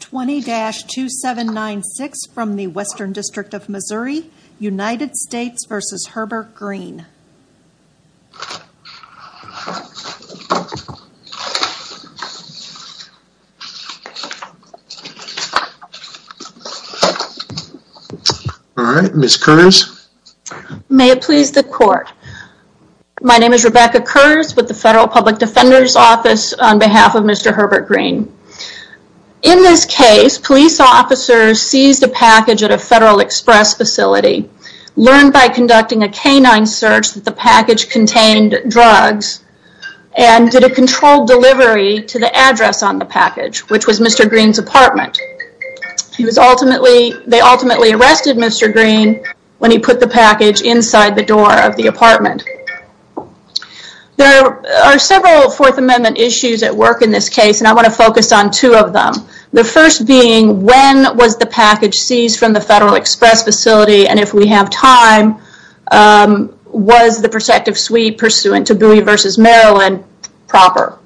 20-2796 from the Western District of Missouri, United States v. Herbert Green. Alright, Ms. Kurz. May it please the court. My name is Rebecca Kurz with the Federal Public Defender's Office on behalf of Mr. Herbert Green. In this case, police officers seized a package at a Federal Express facility, learned by conducting a canine search that the package contained drugs, and did a controlled delivery to the address on the package, which was Mr. Green's apartment. They ultimately arrested Mr. Green when he put the package inside the door of the apartment. There are several Fourth Amendment issues at work in this case, and I want to focus on two of them. The first being, when was the package seized from the Federal Express facility, and if we have time, was the protective suite pursuant to Bowie v. Maryland proper?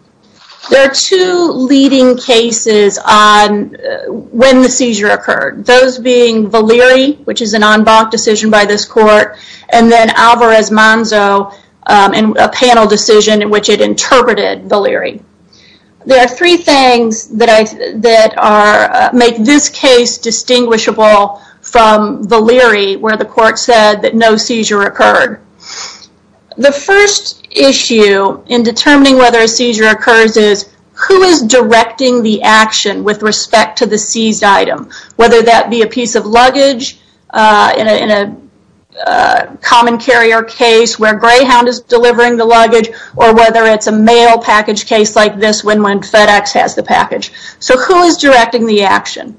There are two leading cases on when the seizure occurred. Those being Valeri, which is an en banc decision by this court, and then Alvarez-Manzo, a panel decision in which it interpreted Valeri. There are three things that make this case distinguishable from Valeri, where the court said that no seizure occurred. The first issue in determining whether a seizure occurs is, who is directing the action with respect to the seized item? Whether that be a piece of luggage in a common carrier case where Greyhound is delivering the luggage, or whether it's a mail package case like this one when FedEx has the package. Who is directing the action?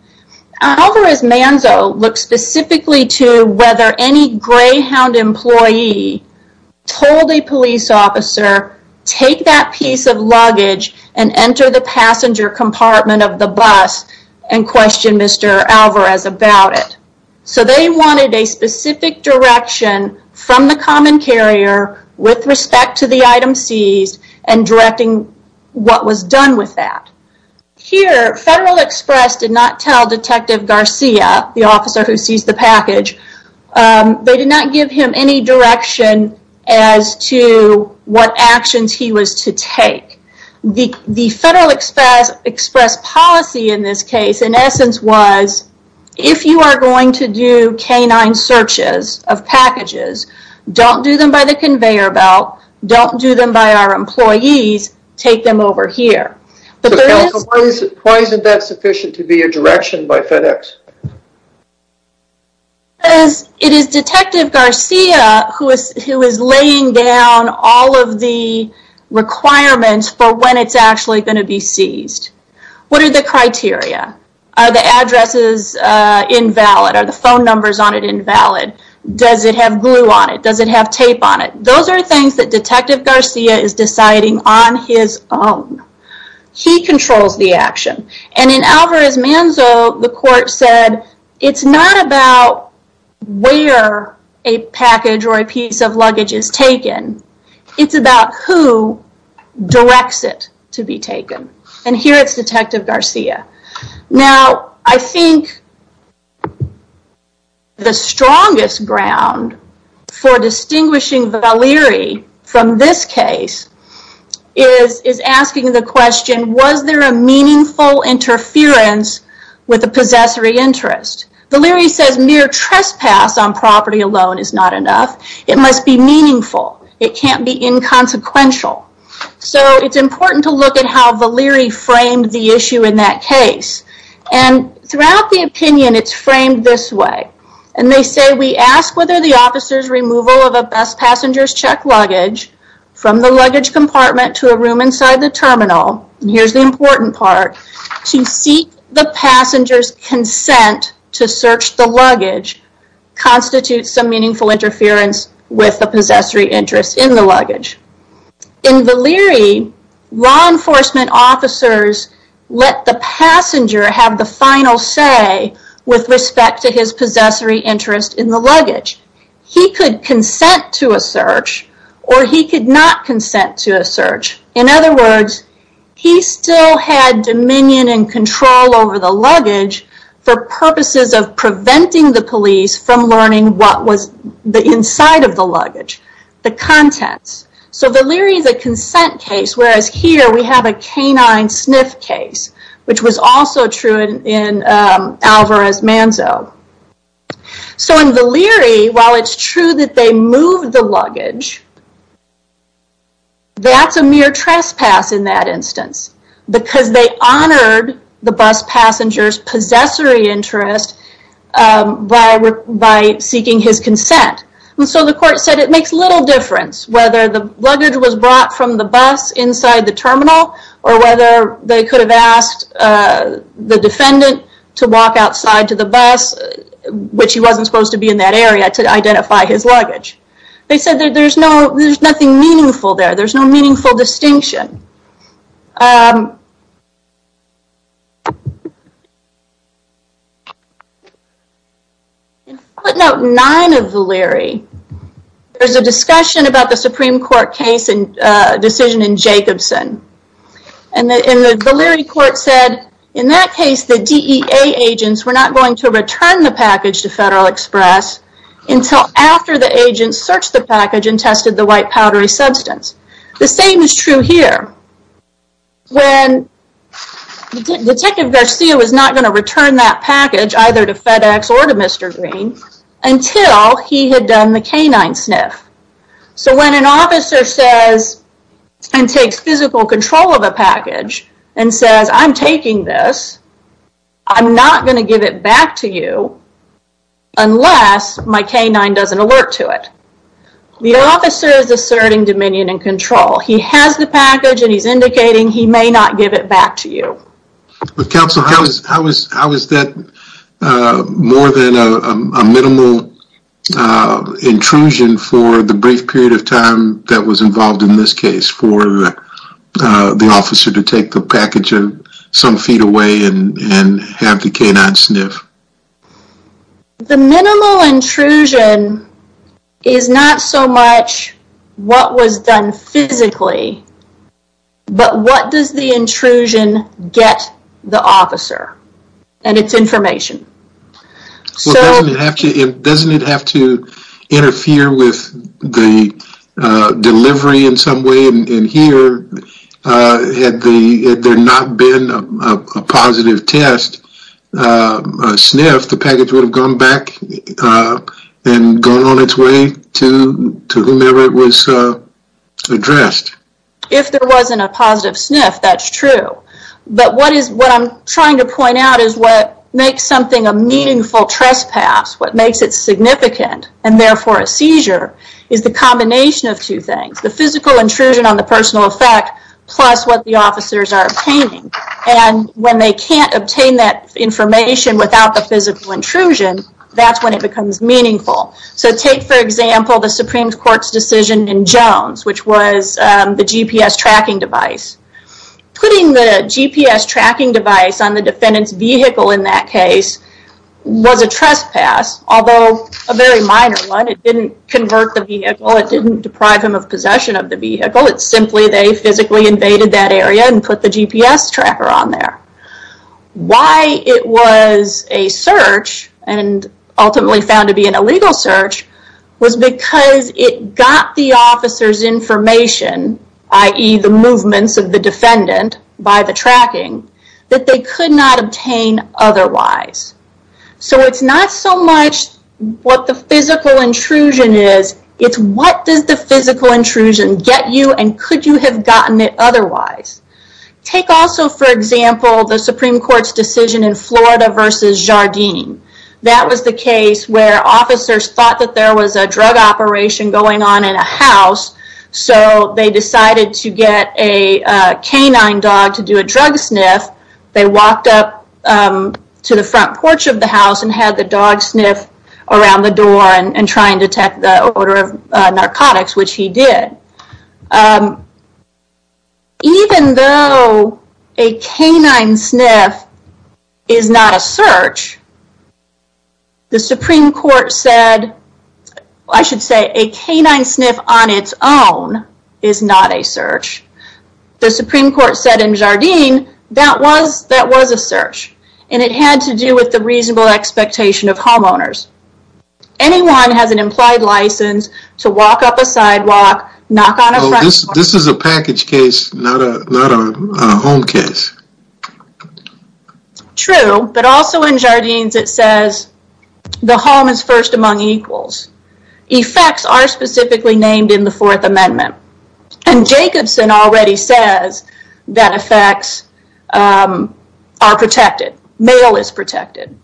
Alvarez-Manzo looks specifically to whether any Greyhound employee told a police officer, take that piece of luggage and enter the passenger compartment of the bus and question Mr. Alvarez about it. They wanted a specific direction from the common carrier with respect to the item seized and directing what was done with that. Here, Federal Express did not tell Detective Garcia, the officer who seized the package, they did not give him any direction as to what actions he was to take. The Federal Express policy in this case, in essence, was if you are going to do canine searches of packages, don't do them by the conveyor belt, don't do them by our employees, take them over here. Why isn't that sufficient to be a direction by FedEx? It is Detective Garcia who is laying down all of the requirements for when it's actually going to be seized. What are the criteria? Are the addresses invalid? Are the phone numbers on it invalid? Does it have glue on it? Does it have tape on it? Those are things that Detective Garcia is deciding on his own. He controls the action. In Alvarez-Manzo, the court said it's not about where a package or a piece of luggage is taken, it's about who directs it to be taken. Here, it's Detective Garcia. I think the strongest ground for distinguishing Valery from this case is asking the question, was there a meaningful interference with the possessory interest? Valery says mere trespass on property alone is not enough. It must be meaningful. It can't be inconsequential. It's important to look at how Valery framed the issue in that case. Throughout the opinion, it's framed this way. They say, we ask whether the officer's removal of a best passenger's checked luggage from the luggage compartment to a room inside the terminal, and here's the important part, to seek the passenger's consent to search the luggage constitutes some meaningful interference with the possessory interest in the luggage. In Valery, law enforcement officers let the passenger have the final say with respect to his possessory interest in the luggage. He could consent to a search, or he could not consent to a search. In other words, he still had dominion and control over the luggage for purposes of preventing the police from learning what was inside of the luggage, the contents. Valery is a consent case, whereas here we have a canine sniff case, which was also true in Alvarez-Manzo. In Valery, while it's true that they moved the luggage, that's a mere trespass in that instance, because they honored the best passenger's possessory interest by seeking his consent. The court said it makes little difference whether the luggage was brought from the bus inside the terminal or whether they could have asked the defendant to walk outside to the bus, which he wasn't supposed to be in that area, to identify his luggage. They said there's nothing meaningful there. There's no meaningful distinction. In footnote 9 of Valery, there's a discussion about the Supreme Court case and decision in Jacobson. The Valery court said, in that case, the DEA agents were not going to return the package to Federal Express until after the agents searched the package and tested the white powdery substance. The same is true here. When Detective Garcia was not going to return that package, either to FedEx or to Mr. Green, until he had done the canine sniff. So when an officer says and takes physical control of a package and says, I'm taking this, I'm not going to give it back to you unless my canine does an alert to it. The officer is asserting dominion and control. He has the package and he's indicating he may not give it back to you. Counsel, how is that more than a minimal intrusion for the brief period of time that was involved in this case for the officer to take the package some feet away and have the canine sniff? The minimal intrusion is not so much what was done physically, but what does the intrusion get the officer and its information. Doesn't it have to interfere with the delivery in some way in here had there not been a positive test, a sniff, the package would have gone back and gone on its way to whomever it was addressed. If there wasn't a positive sniff, that's true. But what I'm trying to point out is what makes something a meaningful trespass, what makes it significant, and therefore a seizure, is the combination of two things. The physical intrusion on the personal effect plus what the officers are obtaining. When they can't obtain that information without the physical intrusion, that's when it becomes meaningful. Take, for example, the Supreme Court's decision in Jones, which was the GPS tracking device. Putting the GPS tracking device on the defendant's vehicle in that case was a trespass, although a very minor one. It didn't convert the vehicle. It didn't deprive him of possession of the vehicle. It's simply they physically invaded that area and put the GPS tracker on there. Why it was a search and ultimately found to be an illegal search was because it got the officer's information, i.e. the movements of the defendant by the tracking, that they could not obtain otherwise. It's not so much what the physical intrusion is. It's what does the physical intrusion get you and could you have gotten it otherwise. Take also, for example, the Supreme Court's decision in Florida versus Jardim. That was the case where officers thought that there was a drug operation going on in a house, so they decided to get a canine dog to do a drug sniff. They walked up to the front porch of the house and had the dog sniff around the door and try and detect the odor of narcotics, which he did. Even though a canine sniff is not a search, the Supreme Court said, I should say, The Supreme Court said in Jardim that was a search and it had to do with the reasonable expectation of homeowners. Anyone has an implied license to walk up a sidewalk, knock on a front porch... This is a package case, not a home case. True, but also in Jardim it says the home is first among equals. Effects are specifically named in the Fourth Amendment. And Jacobson already says that effects are protected. Mail is protected.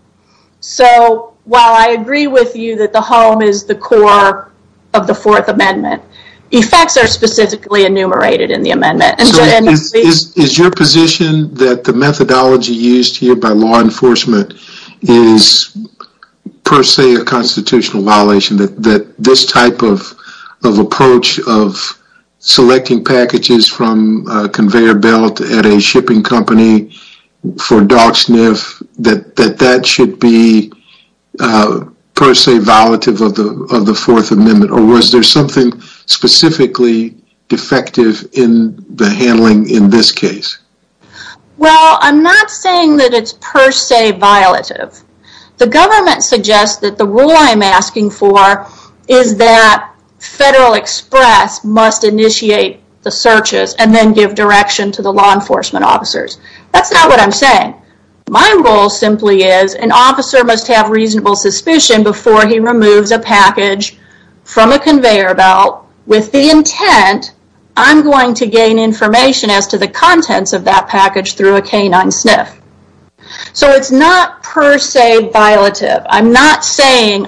So while I agree with you that the home is the core of the Fourth Amendment, effects are specifically enumerated in the amendment. Is your position that the methodology used here by law enforcement is per se a constitutional violation, that this type of approach of selecting packages from a conveyor belt at a shipping company for dog sniff, that that should be per se violative of the Fourth Amendment? Or was there something specifically defective in the handling in this case? Well, I'm not saying that it's per se violative. The government suggests that the rule I'm asking for is that Federal Express must initiate the searches and then give direction to the law enforcement officers. That's not what I'm saying. My rule simply is an officer must have reasonable suspicion before he removes a package from a conveyor belt with the intent I'm going to gain information as to the contents of that package through a canine sniff. So it's not per se violative. I'm not saying,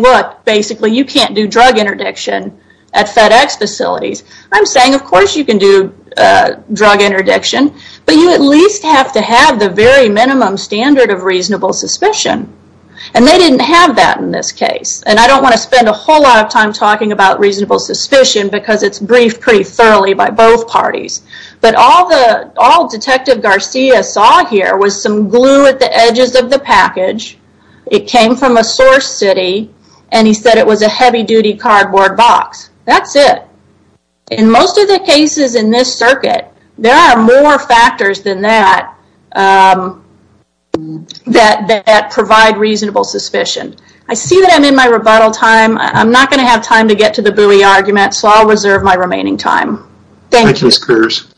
look, basically you can't do drug interdiction at FedEx facilities. I'm saying of course you can do drug interdiction, but you at least have to have the very minimum standard of reasonable suspicion. And they didn't have that in this case. And I don't want to spend a whole lot of time talking about reasonable suspicion because it's briefed pretty thoroughly by both parties. But all Detective Garcia saw here was some glue at the edges of the package. It came from a source city, and he said it was a heavy-duty cardboard box. That's it. In most of the cases in this circuit, there are more factors than that that provide reasonable suspicion. I see that I'm in my rebuttal time. I'm not going to have time to get to the buoy argument, so I'll reserve my remaining time. Thank you. Thank you, Ms. Coors.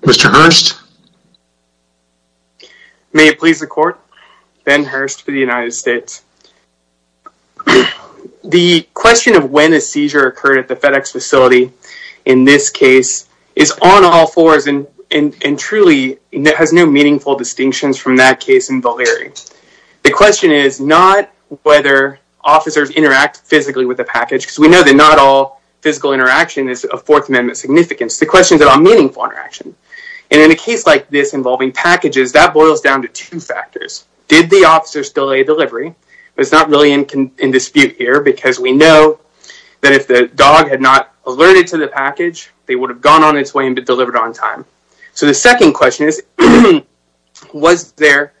Mr. Hurst? May it please the Court, Ben Hurst for the United States. The question of when a seizure occurred at the FedEx facility in this case is on all fours and truly has no meaningful distinctions from that case in Valerie. The question is not whether officers interact physically with the package because we know that not all physical interaction is of Fourth Amendment significance. The question is about meaningful interaction. In a case like this involving packages, that boils down to two factors. Did the officers delay delivery? It's not really in dispute here because we know that if the dog had not alerted to the package, they would have gone on its way and been delivered on time. The second question is, was there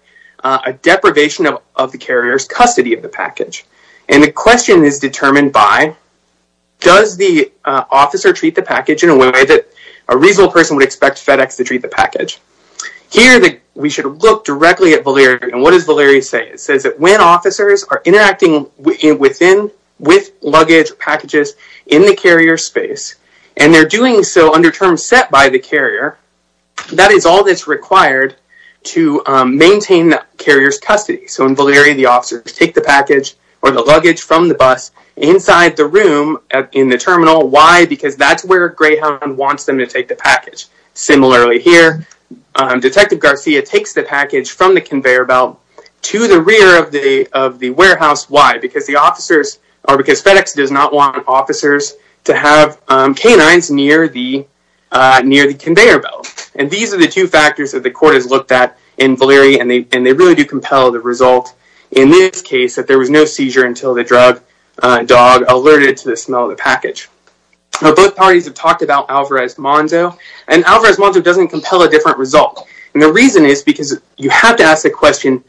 a deprivation of the carrier's custody of the package? And the question is determined by, does the officer treat the package in a way that a reasonable person would expect FedEx to treat the package? Here, we should look directly at Valerie, and what does Valerie say? It says that when officers are interacting within, with luggage or packages in the carrier's space, and they're doing so under terms set by the carrier, that is all that's required to maintain the carrier's custody. So in Valerie, the officers take the package or the luggage from the bus inside the room in the terminal. Why? Because that's where Greyhound wants them to take the package. Similarly here, Detective Garcia takes the package from the conveyor belt to the rear of the warehouse. Why? Because FedEx does not want officers to have canines near the conveyor belt. And these are the two factors that the court has looked at in Valerie, and they really do compel the result in this case, that there was no seizure until the drug dog alerted to the smell of the package. Both parties have talked about Alvarez-Manzo, and Alvarez-Manzo doesn't compel a different result. And the reason is because you have to ask the question,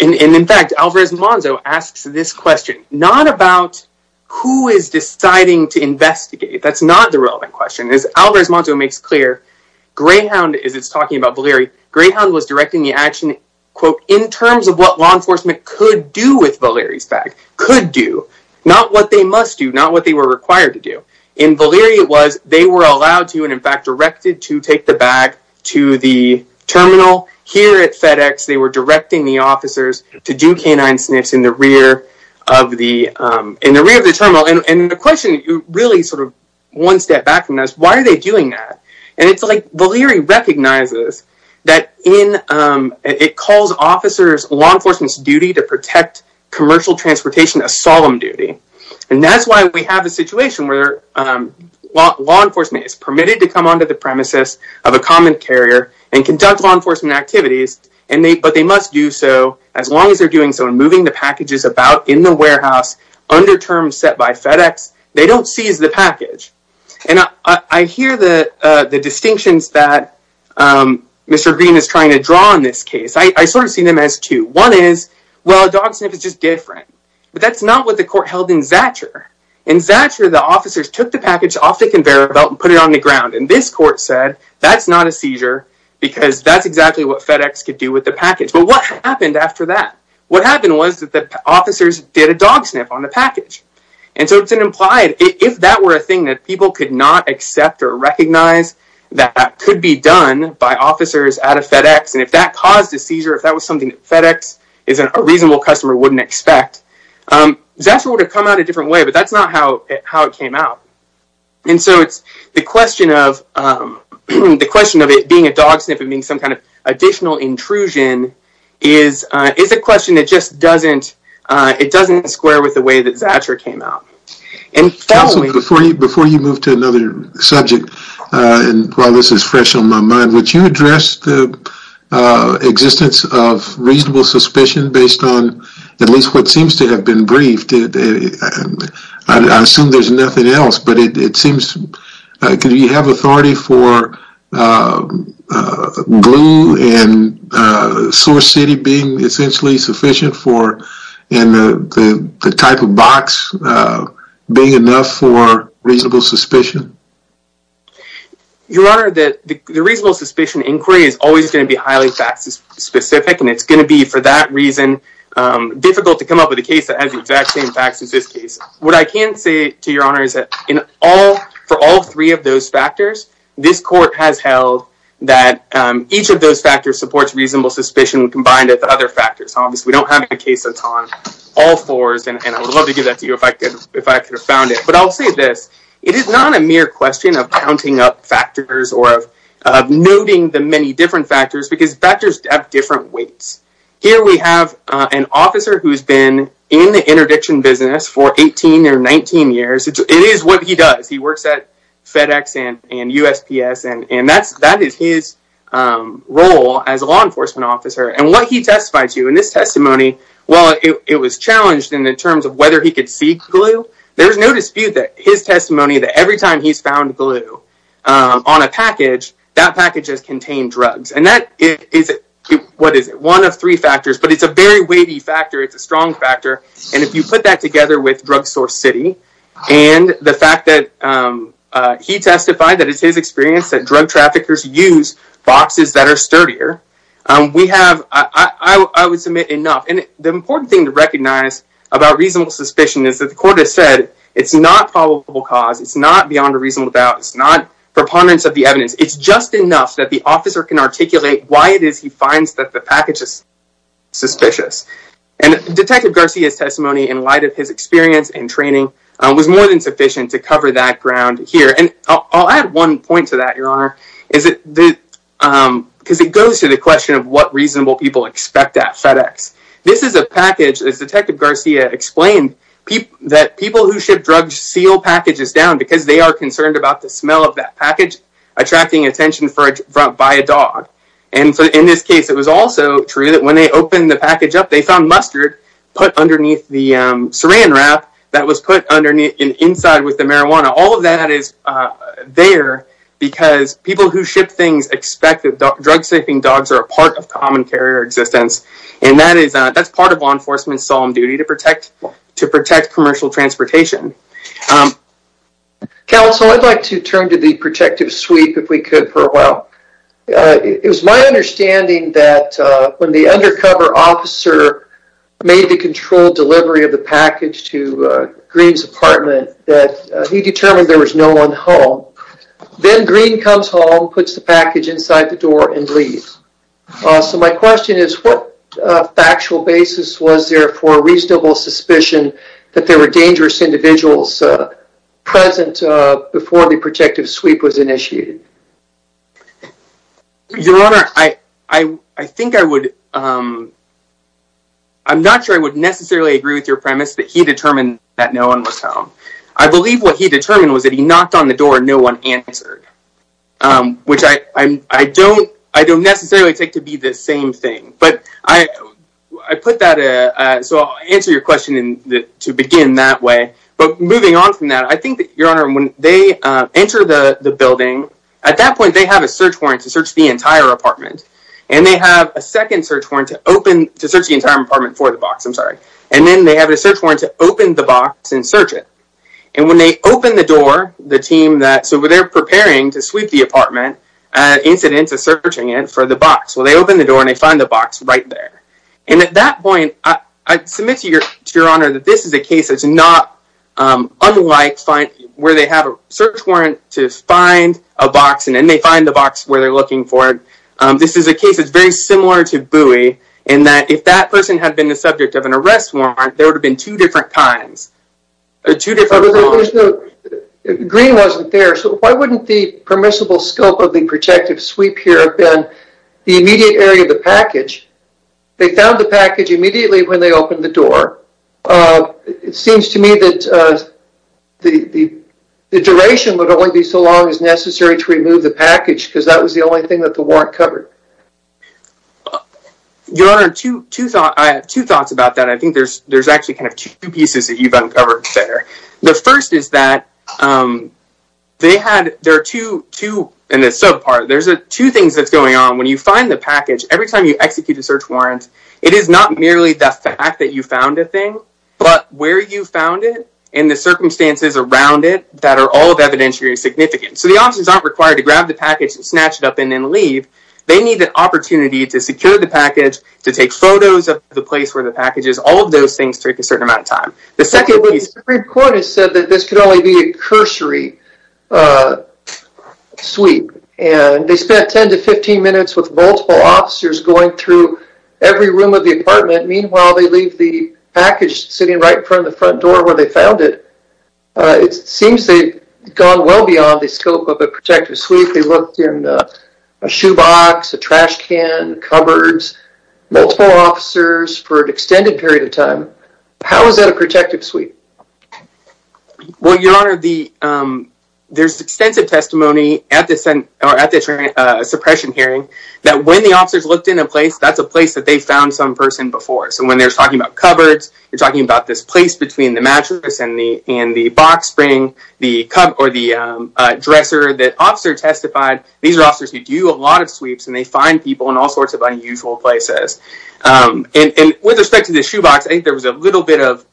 and in fact, Alvarez-Manzo asks this question, not about who is deciding to investigate. That's not the relevant question. As Alvarez-Manzo makes clear, Greyhound, as it's talking about Valerie, Greyhound was directing the action, quote, in terms of what law enforcement could do with Valerie's bag. Could do. Not what they must do, not what they were required to do. In Valerie, it was they were allowed to, and in fact, directed to take the bag to the terminal. Here at FedEx, they were directing the officers to do canine sniffs in the rear of the terminal. And the question, really sort of one step back from this, why are they doing that? And it's like Valerie recognizes that in, it calls officers' law enforcement's duty to protect commercial transportation a solemn duty. And that's why we have a situation where law enforcement is permitted to come onto the premises of a common carrier and conduct law enforcement activities, but they must do so as long as they're doing so and moving the packages about in the warehouse under terms set by FedEx, they don't seize the package. And I hear the distinctions that Mr. Green is trying to draw in this case. I sort of see them as two. One is, well, a dog sniff is just different, but that's not what the court held in Zacher. In Zacher, the officers took the package off the conveyor belt and put it on the ground. And this court said, that's not a seizure because that's exactly what FedEx could do with the package. What happened was that the officers did a dog sniff on the package. And so it's implied, if that were a thing that people could not accept or recognize that could be done by officers at a FedEx, and if that caused a seizure, if that was something that FedEx is a reasonable customer wouldn't expect, Zacher would have come out a different way, but that's not how it came out. And so it's the question of it being a dog sniff and being some kind of additional intrusion is a question that just doesn't square with the way that Zacher came out. Before you move to another subject, and while this is fresh on my mind, would you address the existence of reasonable suspicion based on at least what seems to have been briefed? I assume there's nothing else, but it seems, could you have authority for glue and source city being essentially sufficient for, and the type of box being enough for reasonable suspicion? Your Honor, the reasonable suspicion inquiry is always going to be highly fact specific, and it's going to be, for that reason, difficult to come up with a case that has the exact same facts as this case. What I can say to Your Honor is that for all three of those factors, this court has held that each of those factors supports reasonable suspicion combined with other factors. Obviously, we don't have a case that's on all fours, and I would love to give that to you if I could have found it. But I'll say this. It is not a mere question of counting up factors or of noting the many different factors because factors have different weights. Here we have an officer who's been in the interdiction business for 18 or 19 years. It is what he does. He works at FedEx and USPS, and that is his role as a law enforcement officer. And what he testified to in this testimony, while it was challenged in the terms of whether he could seek glue, there's no dispute that his testimony that every time he's found glue on a package, that package has contained drugs. And that is one of three factors, but it's a very weighty factor. It's a strong factor. And if you put that together with Drug Source City and the fact that he testified that it's his experience that drug traffickers use boxes that are sturdier, I would submit enough. And the important thing to recognize about reasonable suspicion is that the court has said it's not probable cause. It's not beyond a reasonable doubt. It's not preponderance of the evidence. It's just enough that the officer can articulate why it is he finds that the package is suspicious. And Detective Garcia's testimony in light of his experience and training was more than sufficient to cover that ground here. And I'll add one point to that, Your Honor, because it goes to the question of what reasonable people expect at FedEx. This is a package, as Detective Garcia explained, that people who ship drugs seal packages down because they are concerned about the smell of that package attracting attention by a dog. And so in this case, it was also true that when they opened the package up, they found mustard put underneath the saran wrap that was put inside with the marijuana. All of that is there because people who ship things expect that drug-safing dogs are a part of common carrier existence. And that's part of law enforcement's solemn duty to protect commercial transportation. Counsel, I'd like to turn to the protective sweep, if we could, for a while. It was my understanding that when the undercover officer made the controlled delivery of the package to Green's apartment, that he determined there was no one home. Then Green comes home, puts the package inside the door, and leaves. So my question is, what factual basis was there for a reasonable suspicion that there were dangerous individuals present before the protective sweep was initiated? Your Honor, I think I would... I'm not sure I would necessarily agree with your premise that he determined that no one was home. I believe what he determined was that he knocked on the door and no one answered, which I don't necessarily take to be the same thing. But I put that... So I'll answer your question to begin that way. But moving on from that, I think that, Your Honor, when they enter the building, at that point, they have a search warrant to search the entire apartment. And they have a second search warrant to search the entire apartment for the box. I'm sorry. And then they have a search warrant to open the box and search it. And when they open the door, the team that... So when they're preparing to sweep the apartment, incidents of searching it for the box. Well, they open the door and they find the box right there. And at that point, I submit to Your Honor that this is a case that's not unlike where they have a search warrant to find a box, and then they find the box where they're looking for it. This is a case that's very similar to Bowie in that if that person had been the subject of an arrest warrant, there would have been two different kinds, or two different warrants. Green wasn't there, so why wouldn't the permissible scope of the projected sweep here have been the immediate area of the package? They found the package immediately when they opened the door. It seems to me that the duration would only be so long as necessary to remove the package because that was the only thing that the warrant covered. Your Honor, I have two thoughts about that. I think there's actually kind of two pieces that you've uncovered there. The first is that they had... There are two things that's going on. When you find the package, every time you execute a search warrant, it is not merely the fact that you found a thing, but where you found it and the circumstances around it that are all of evidentiary significance. So the officers aren't required to grab the package and snatch it up and then leave. They need an opportunity to secure the package, to take photos of the place where the package is. All of those things take a certain amount of time. The second piece... The Supreme Court has said that this could only be a cursory sweep, and they spent 10 to 15 minutes with multiple officers going through every room of the apartment. Meanwhile, they leave the package sitting right in front of the front door where they found it. It seems they've gone well beyond the scope of a projected sweep. They looked in a shoebox, a trash can, cupboards, multiple officers for an extended period of time. How is that a projected sweep? Well, Your Honor, there's extensive testimony at the suppression hearing that when the officers looked in a place, that's a place that they found some person before. So when they're talking about cupboards, they're talking about this place between the mattress and the box spring, or the dresser that officer testified. These are officers who do a lot of sweeps, and they find people in all sorts of unusual places. And with respect to the shoebox, I think there was a little bit of...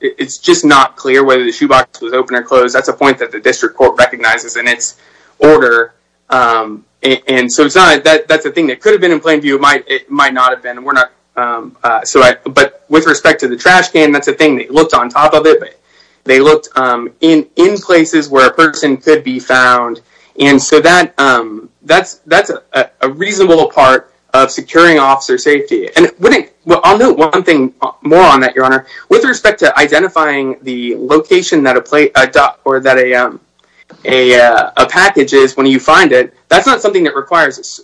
It's just not clear whether the shoebox was open or closed. That's a point that the District Court recognizes in its order. And so that's a thing that could have been in plain view. It might not have been. But with respect to the trash can, that's a thing they looked on top of it. They looked in places where a person could be found. And so that's a reasonable part of securing officer safety. And I'll note one thing more on that, Your Honor. With respect to identifying the location that a package is when you find it, that's not something that requires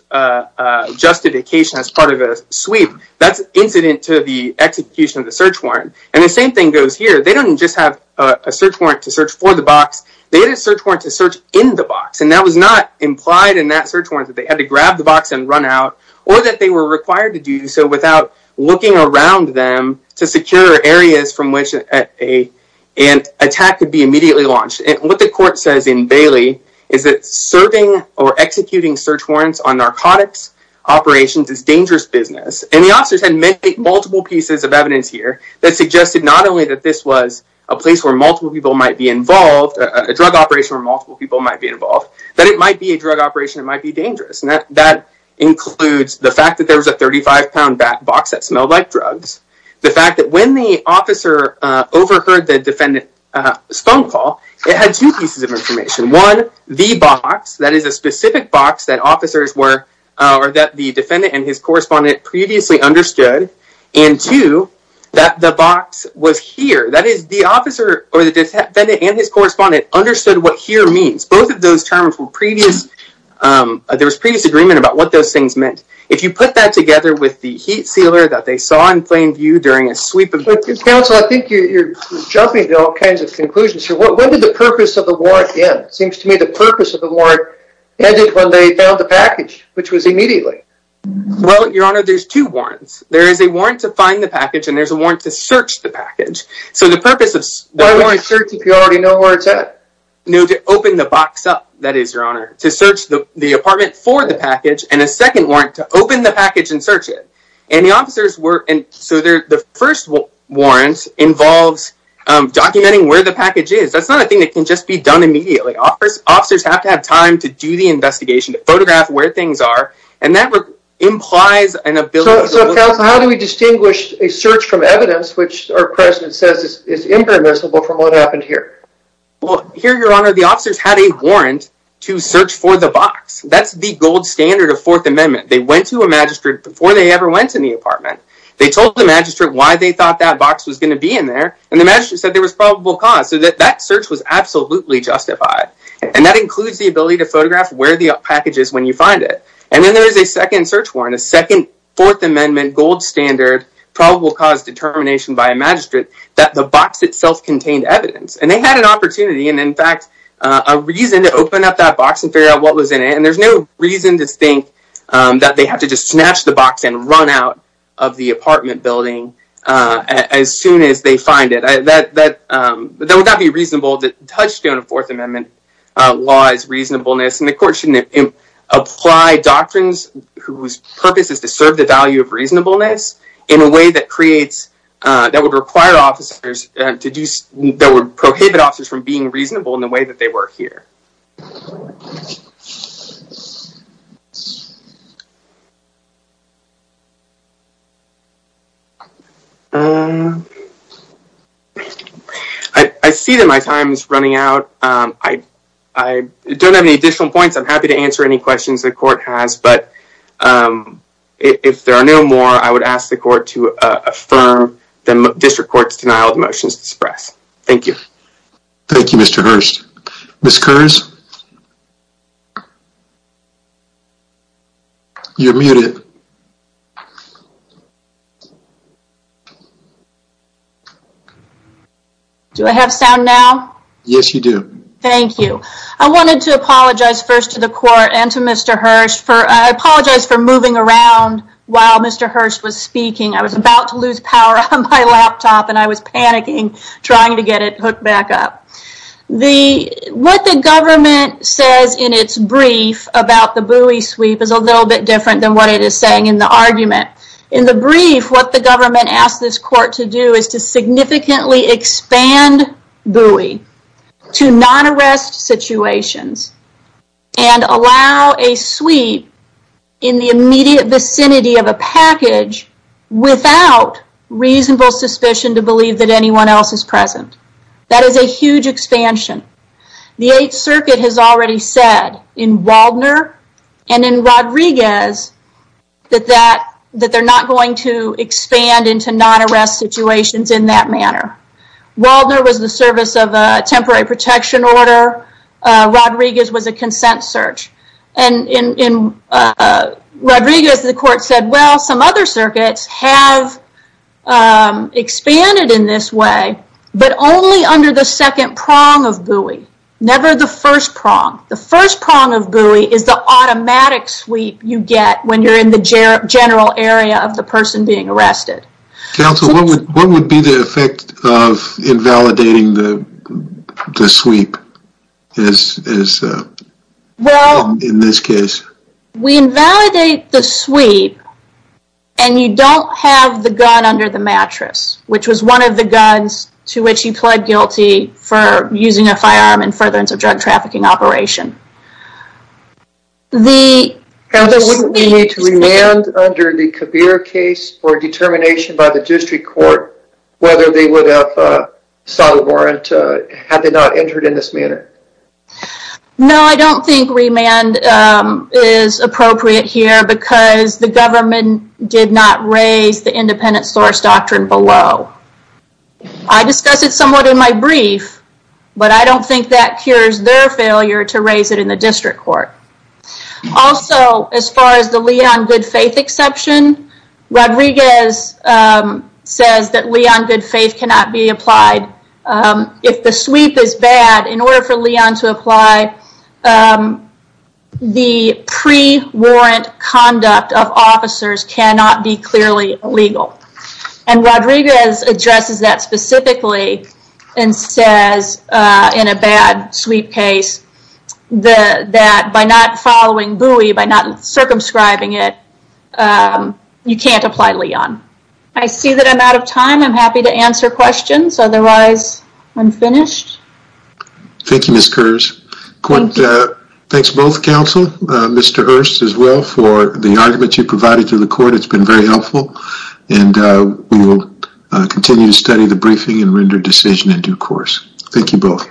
justification as part of a sweep. That's incident to the execution of the search warrant. And the same thing goes here. They didn't just have a search warrant to search for the box. They had a search warrant to search in the box. And that was not implied in that search warrant that they had to grab the box and run out or that they were required to do so without looking around them to secure areas from which an attack could be immediately launched. And what the court says in Bailey is that serving or executing search warrants on narcotics operations is dangerous business. And the officers had made multiple pieces of evidence here that suggested not only that this was a place where multiple people might be involved, a drug operation where multiple people might be involved, that it might be a drug operation. It might be dangerous. And that includes the fact that there was a 35-pound box that smelled like drugs, the fact that when the officer overheard the defendant's phone call, it had two pieces of information. One, the box, that is a specific box that officers were or that the defendant and his correspondent previously understood. And two, that the box was here. That is, the officer or the defendant and his correspondent understood what here means. Both of those terms were previous. There was previous agreement about what those things meant. If you put that together with the heat sealer that they saw in plain view during a sweep of... Counsel, I think you're jumping to all kinds of conclusions here. What did the purpose of the warrant end? It seems to me the purpose of the warrant ended when they found the package, which was immediately. Well, Your Honour, there's two warrants. There is a warrant to find the package and there's a warrant to search the package. So the purpose of... Why warrant search if you already know where it's at? No, to open the box up, that is, Your Honour. To search the apartment for the package and a second warrant to open the package and search it. And the officers were... So the first warrant involves documenting where the package is. That's not a thing that can just be done immediately. Officers have to have time to do the investigation, to photograph where things are, and that implies an ability... So, Counsel, how do we distinguish a search from evidence which our President says is impermissible from what happened here? Well, here, Your Honour, the officers had a warrant to search for the box. That's the gold standard of Fourth Amendment. They went to a magistrate before they ever went to the apartment. They told the magistrate why they thought that box was going to be in there and the magistrate said there was probable cause. So that search was absolutely justified. And that includes the ability to photograph where the package is when you find it. And then there is a second search warrant, a second Fourth Amendment gold standard, probable cause determination by a magistrate, that the box itself contained evidence. And they had an opportunity and, in fact, a reason to open up that box and figure out what was in it. And there's no reason to think that they have to just snatch the box and run out of the apartment building as soon as they find it. That would not be reasonable. The touchstone of Fourth Amendment law is reasonableness. And the court shouldn't apply doctrines whose purpose is to serve the value of reasonableness in a way that creates, that would require officers to do, that would prohibit officers from being reasonable in the way that they were here. I see that my time is running out. I don't have any additional points. I'm happy to answer any questions the court has. But if there are no more, I would ask the court to affirm the district court's denial of motions to suppress. Thank you. Thank you, Mr. Hurst. Ms. Kurz? You're muted. Do I have sound now? Yes, you do. Thank you. I wanted to apologize first to the court and to Mr. Hurst. I apologize for moving around while Mr. Hurst was speaking. I was about to lose power on my laptop and I was panicking trying to get it hooked back up. What the government says in its brief about the buoy sweep is a little bit different than what it is saying in the argument. In the brief, what the government asked this court to do is to significantly expand buoy to non-arrest situations and allow a sweep in the immediate vicinity of a package without reasonable suspicion to believe that anyone else is present. That is a huge expansion. The Eighth Circuit has already said in Waldner and in Rodriguez that they're not going to expand into non-arrest situations in that manner. Waldner was the service of a temporary protection order. Rodriguez was a consent search. In Rodriguez, the court said, well, some other circuits have expanded in this way but only under the second prong of buoy, never the first prong. The first prong of buoy is the automatic sweep you get when you're in the general area of the person being arrested. Counsel, what would be the effect of invalidating the sweep in this case? We invalidate the sweep and you don't have the gun under the mattress which was one of the guns to which he pled guilty for using a firearm in furtherance of drug trafficking operation. Counsel, wouldn't we need to remand under the Kabir case for determination by the district court whether they would have sought a warrant had they not entered in this manner? No, I don't think remand is appropriate here because the government did not raise the independent source doctrine below. I discussed it somewhat in my brief but I don't think that cures their failure to raise it in the district court. Also, as far as the Leon good faith exception, Rodriguez says that Leon good faith cannot be applied. If the sweep is bad, in order for Leon to apply, the pre-warrant conduct of officers cannot be clearly illegal. Rodriguez addresses that specifically and says in a bad sweep case that by not following buoy, by not circumscribing it, you can't apply Leon. I see that I'm out of time. I'm happy to answer questions. Otherwise, I'm finished. Thank you, Ms. Kurz. Thanks both counsel, Mr. Hurst as well, for the argument you provided to the court. It's been very helpful. We will continue to study the briefing and render decision in due course. Thank you both.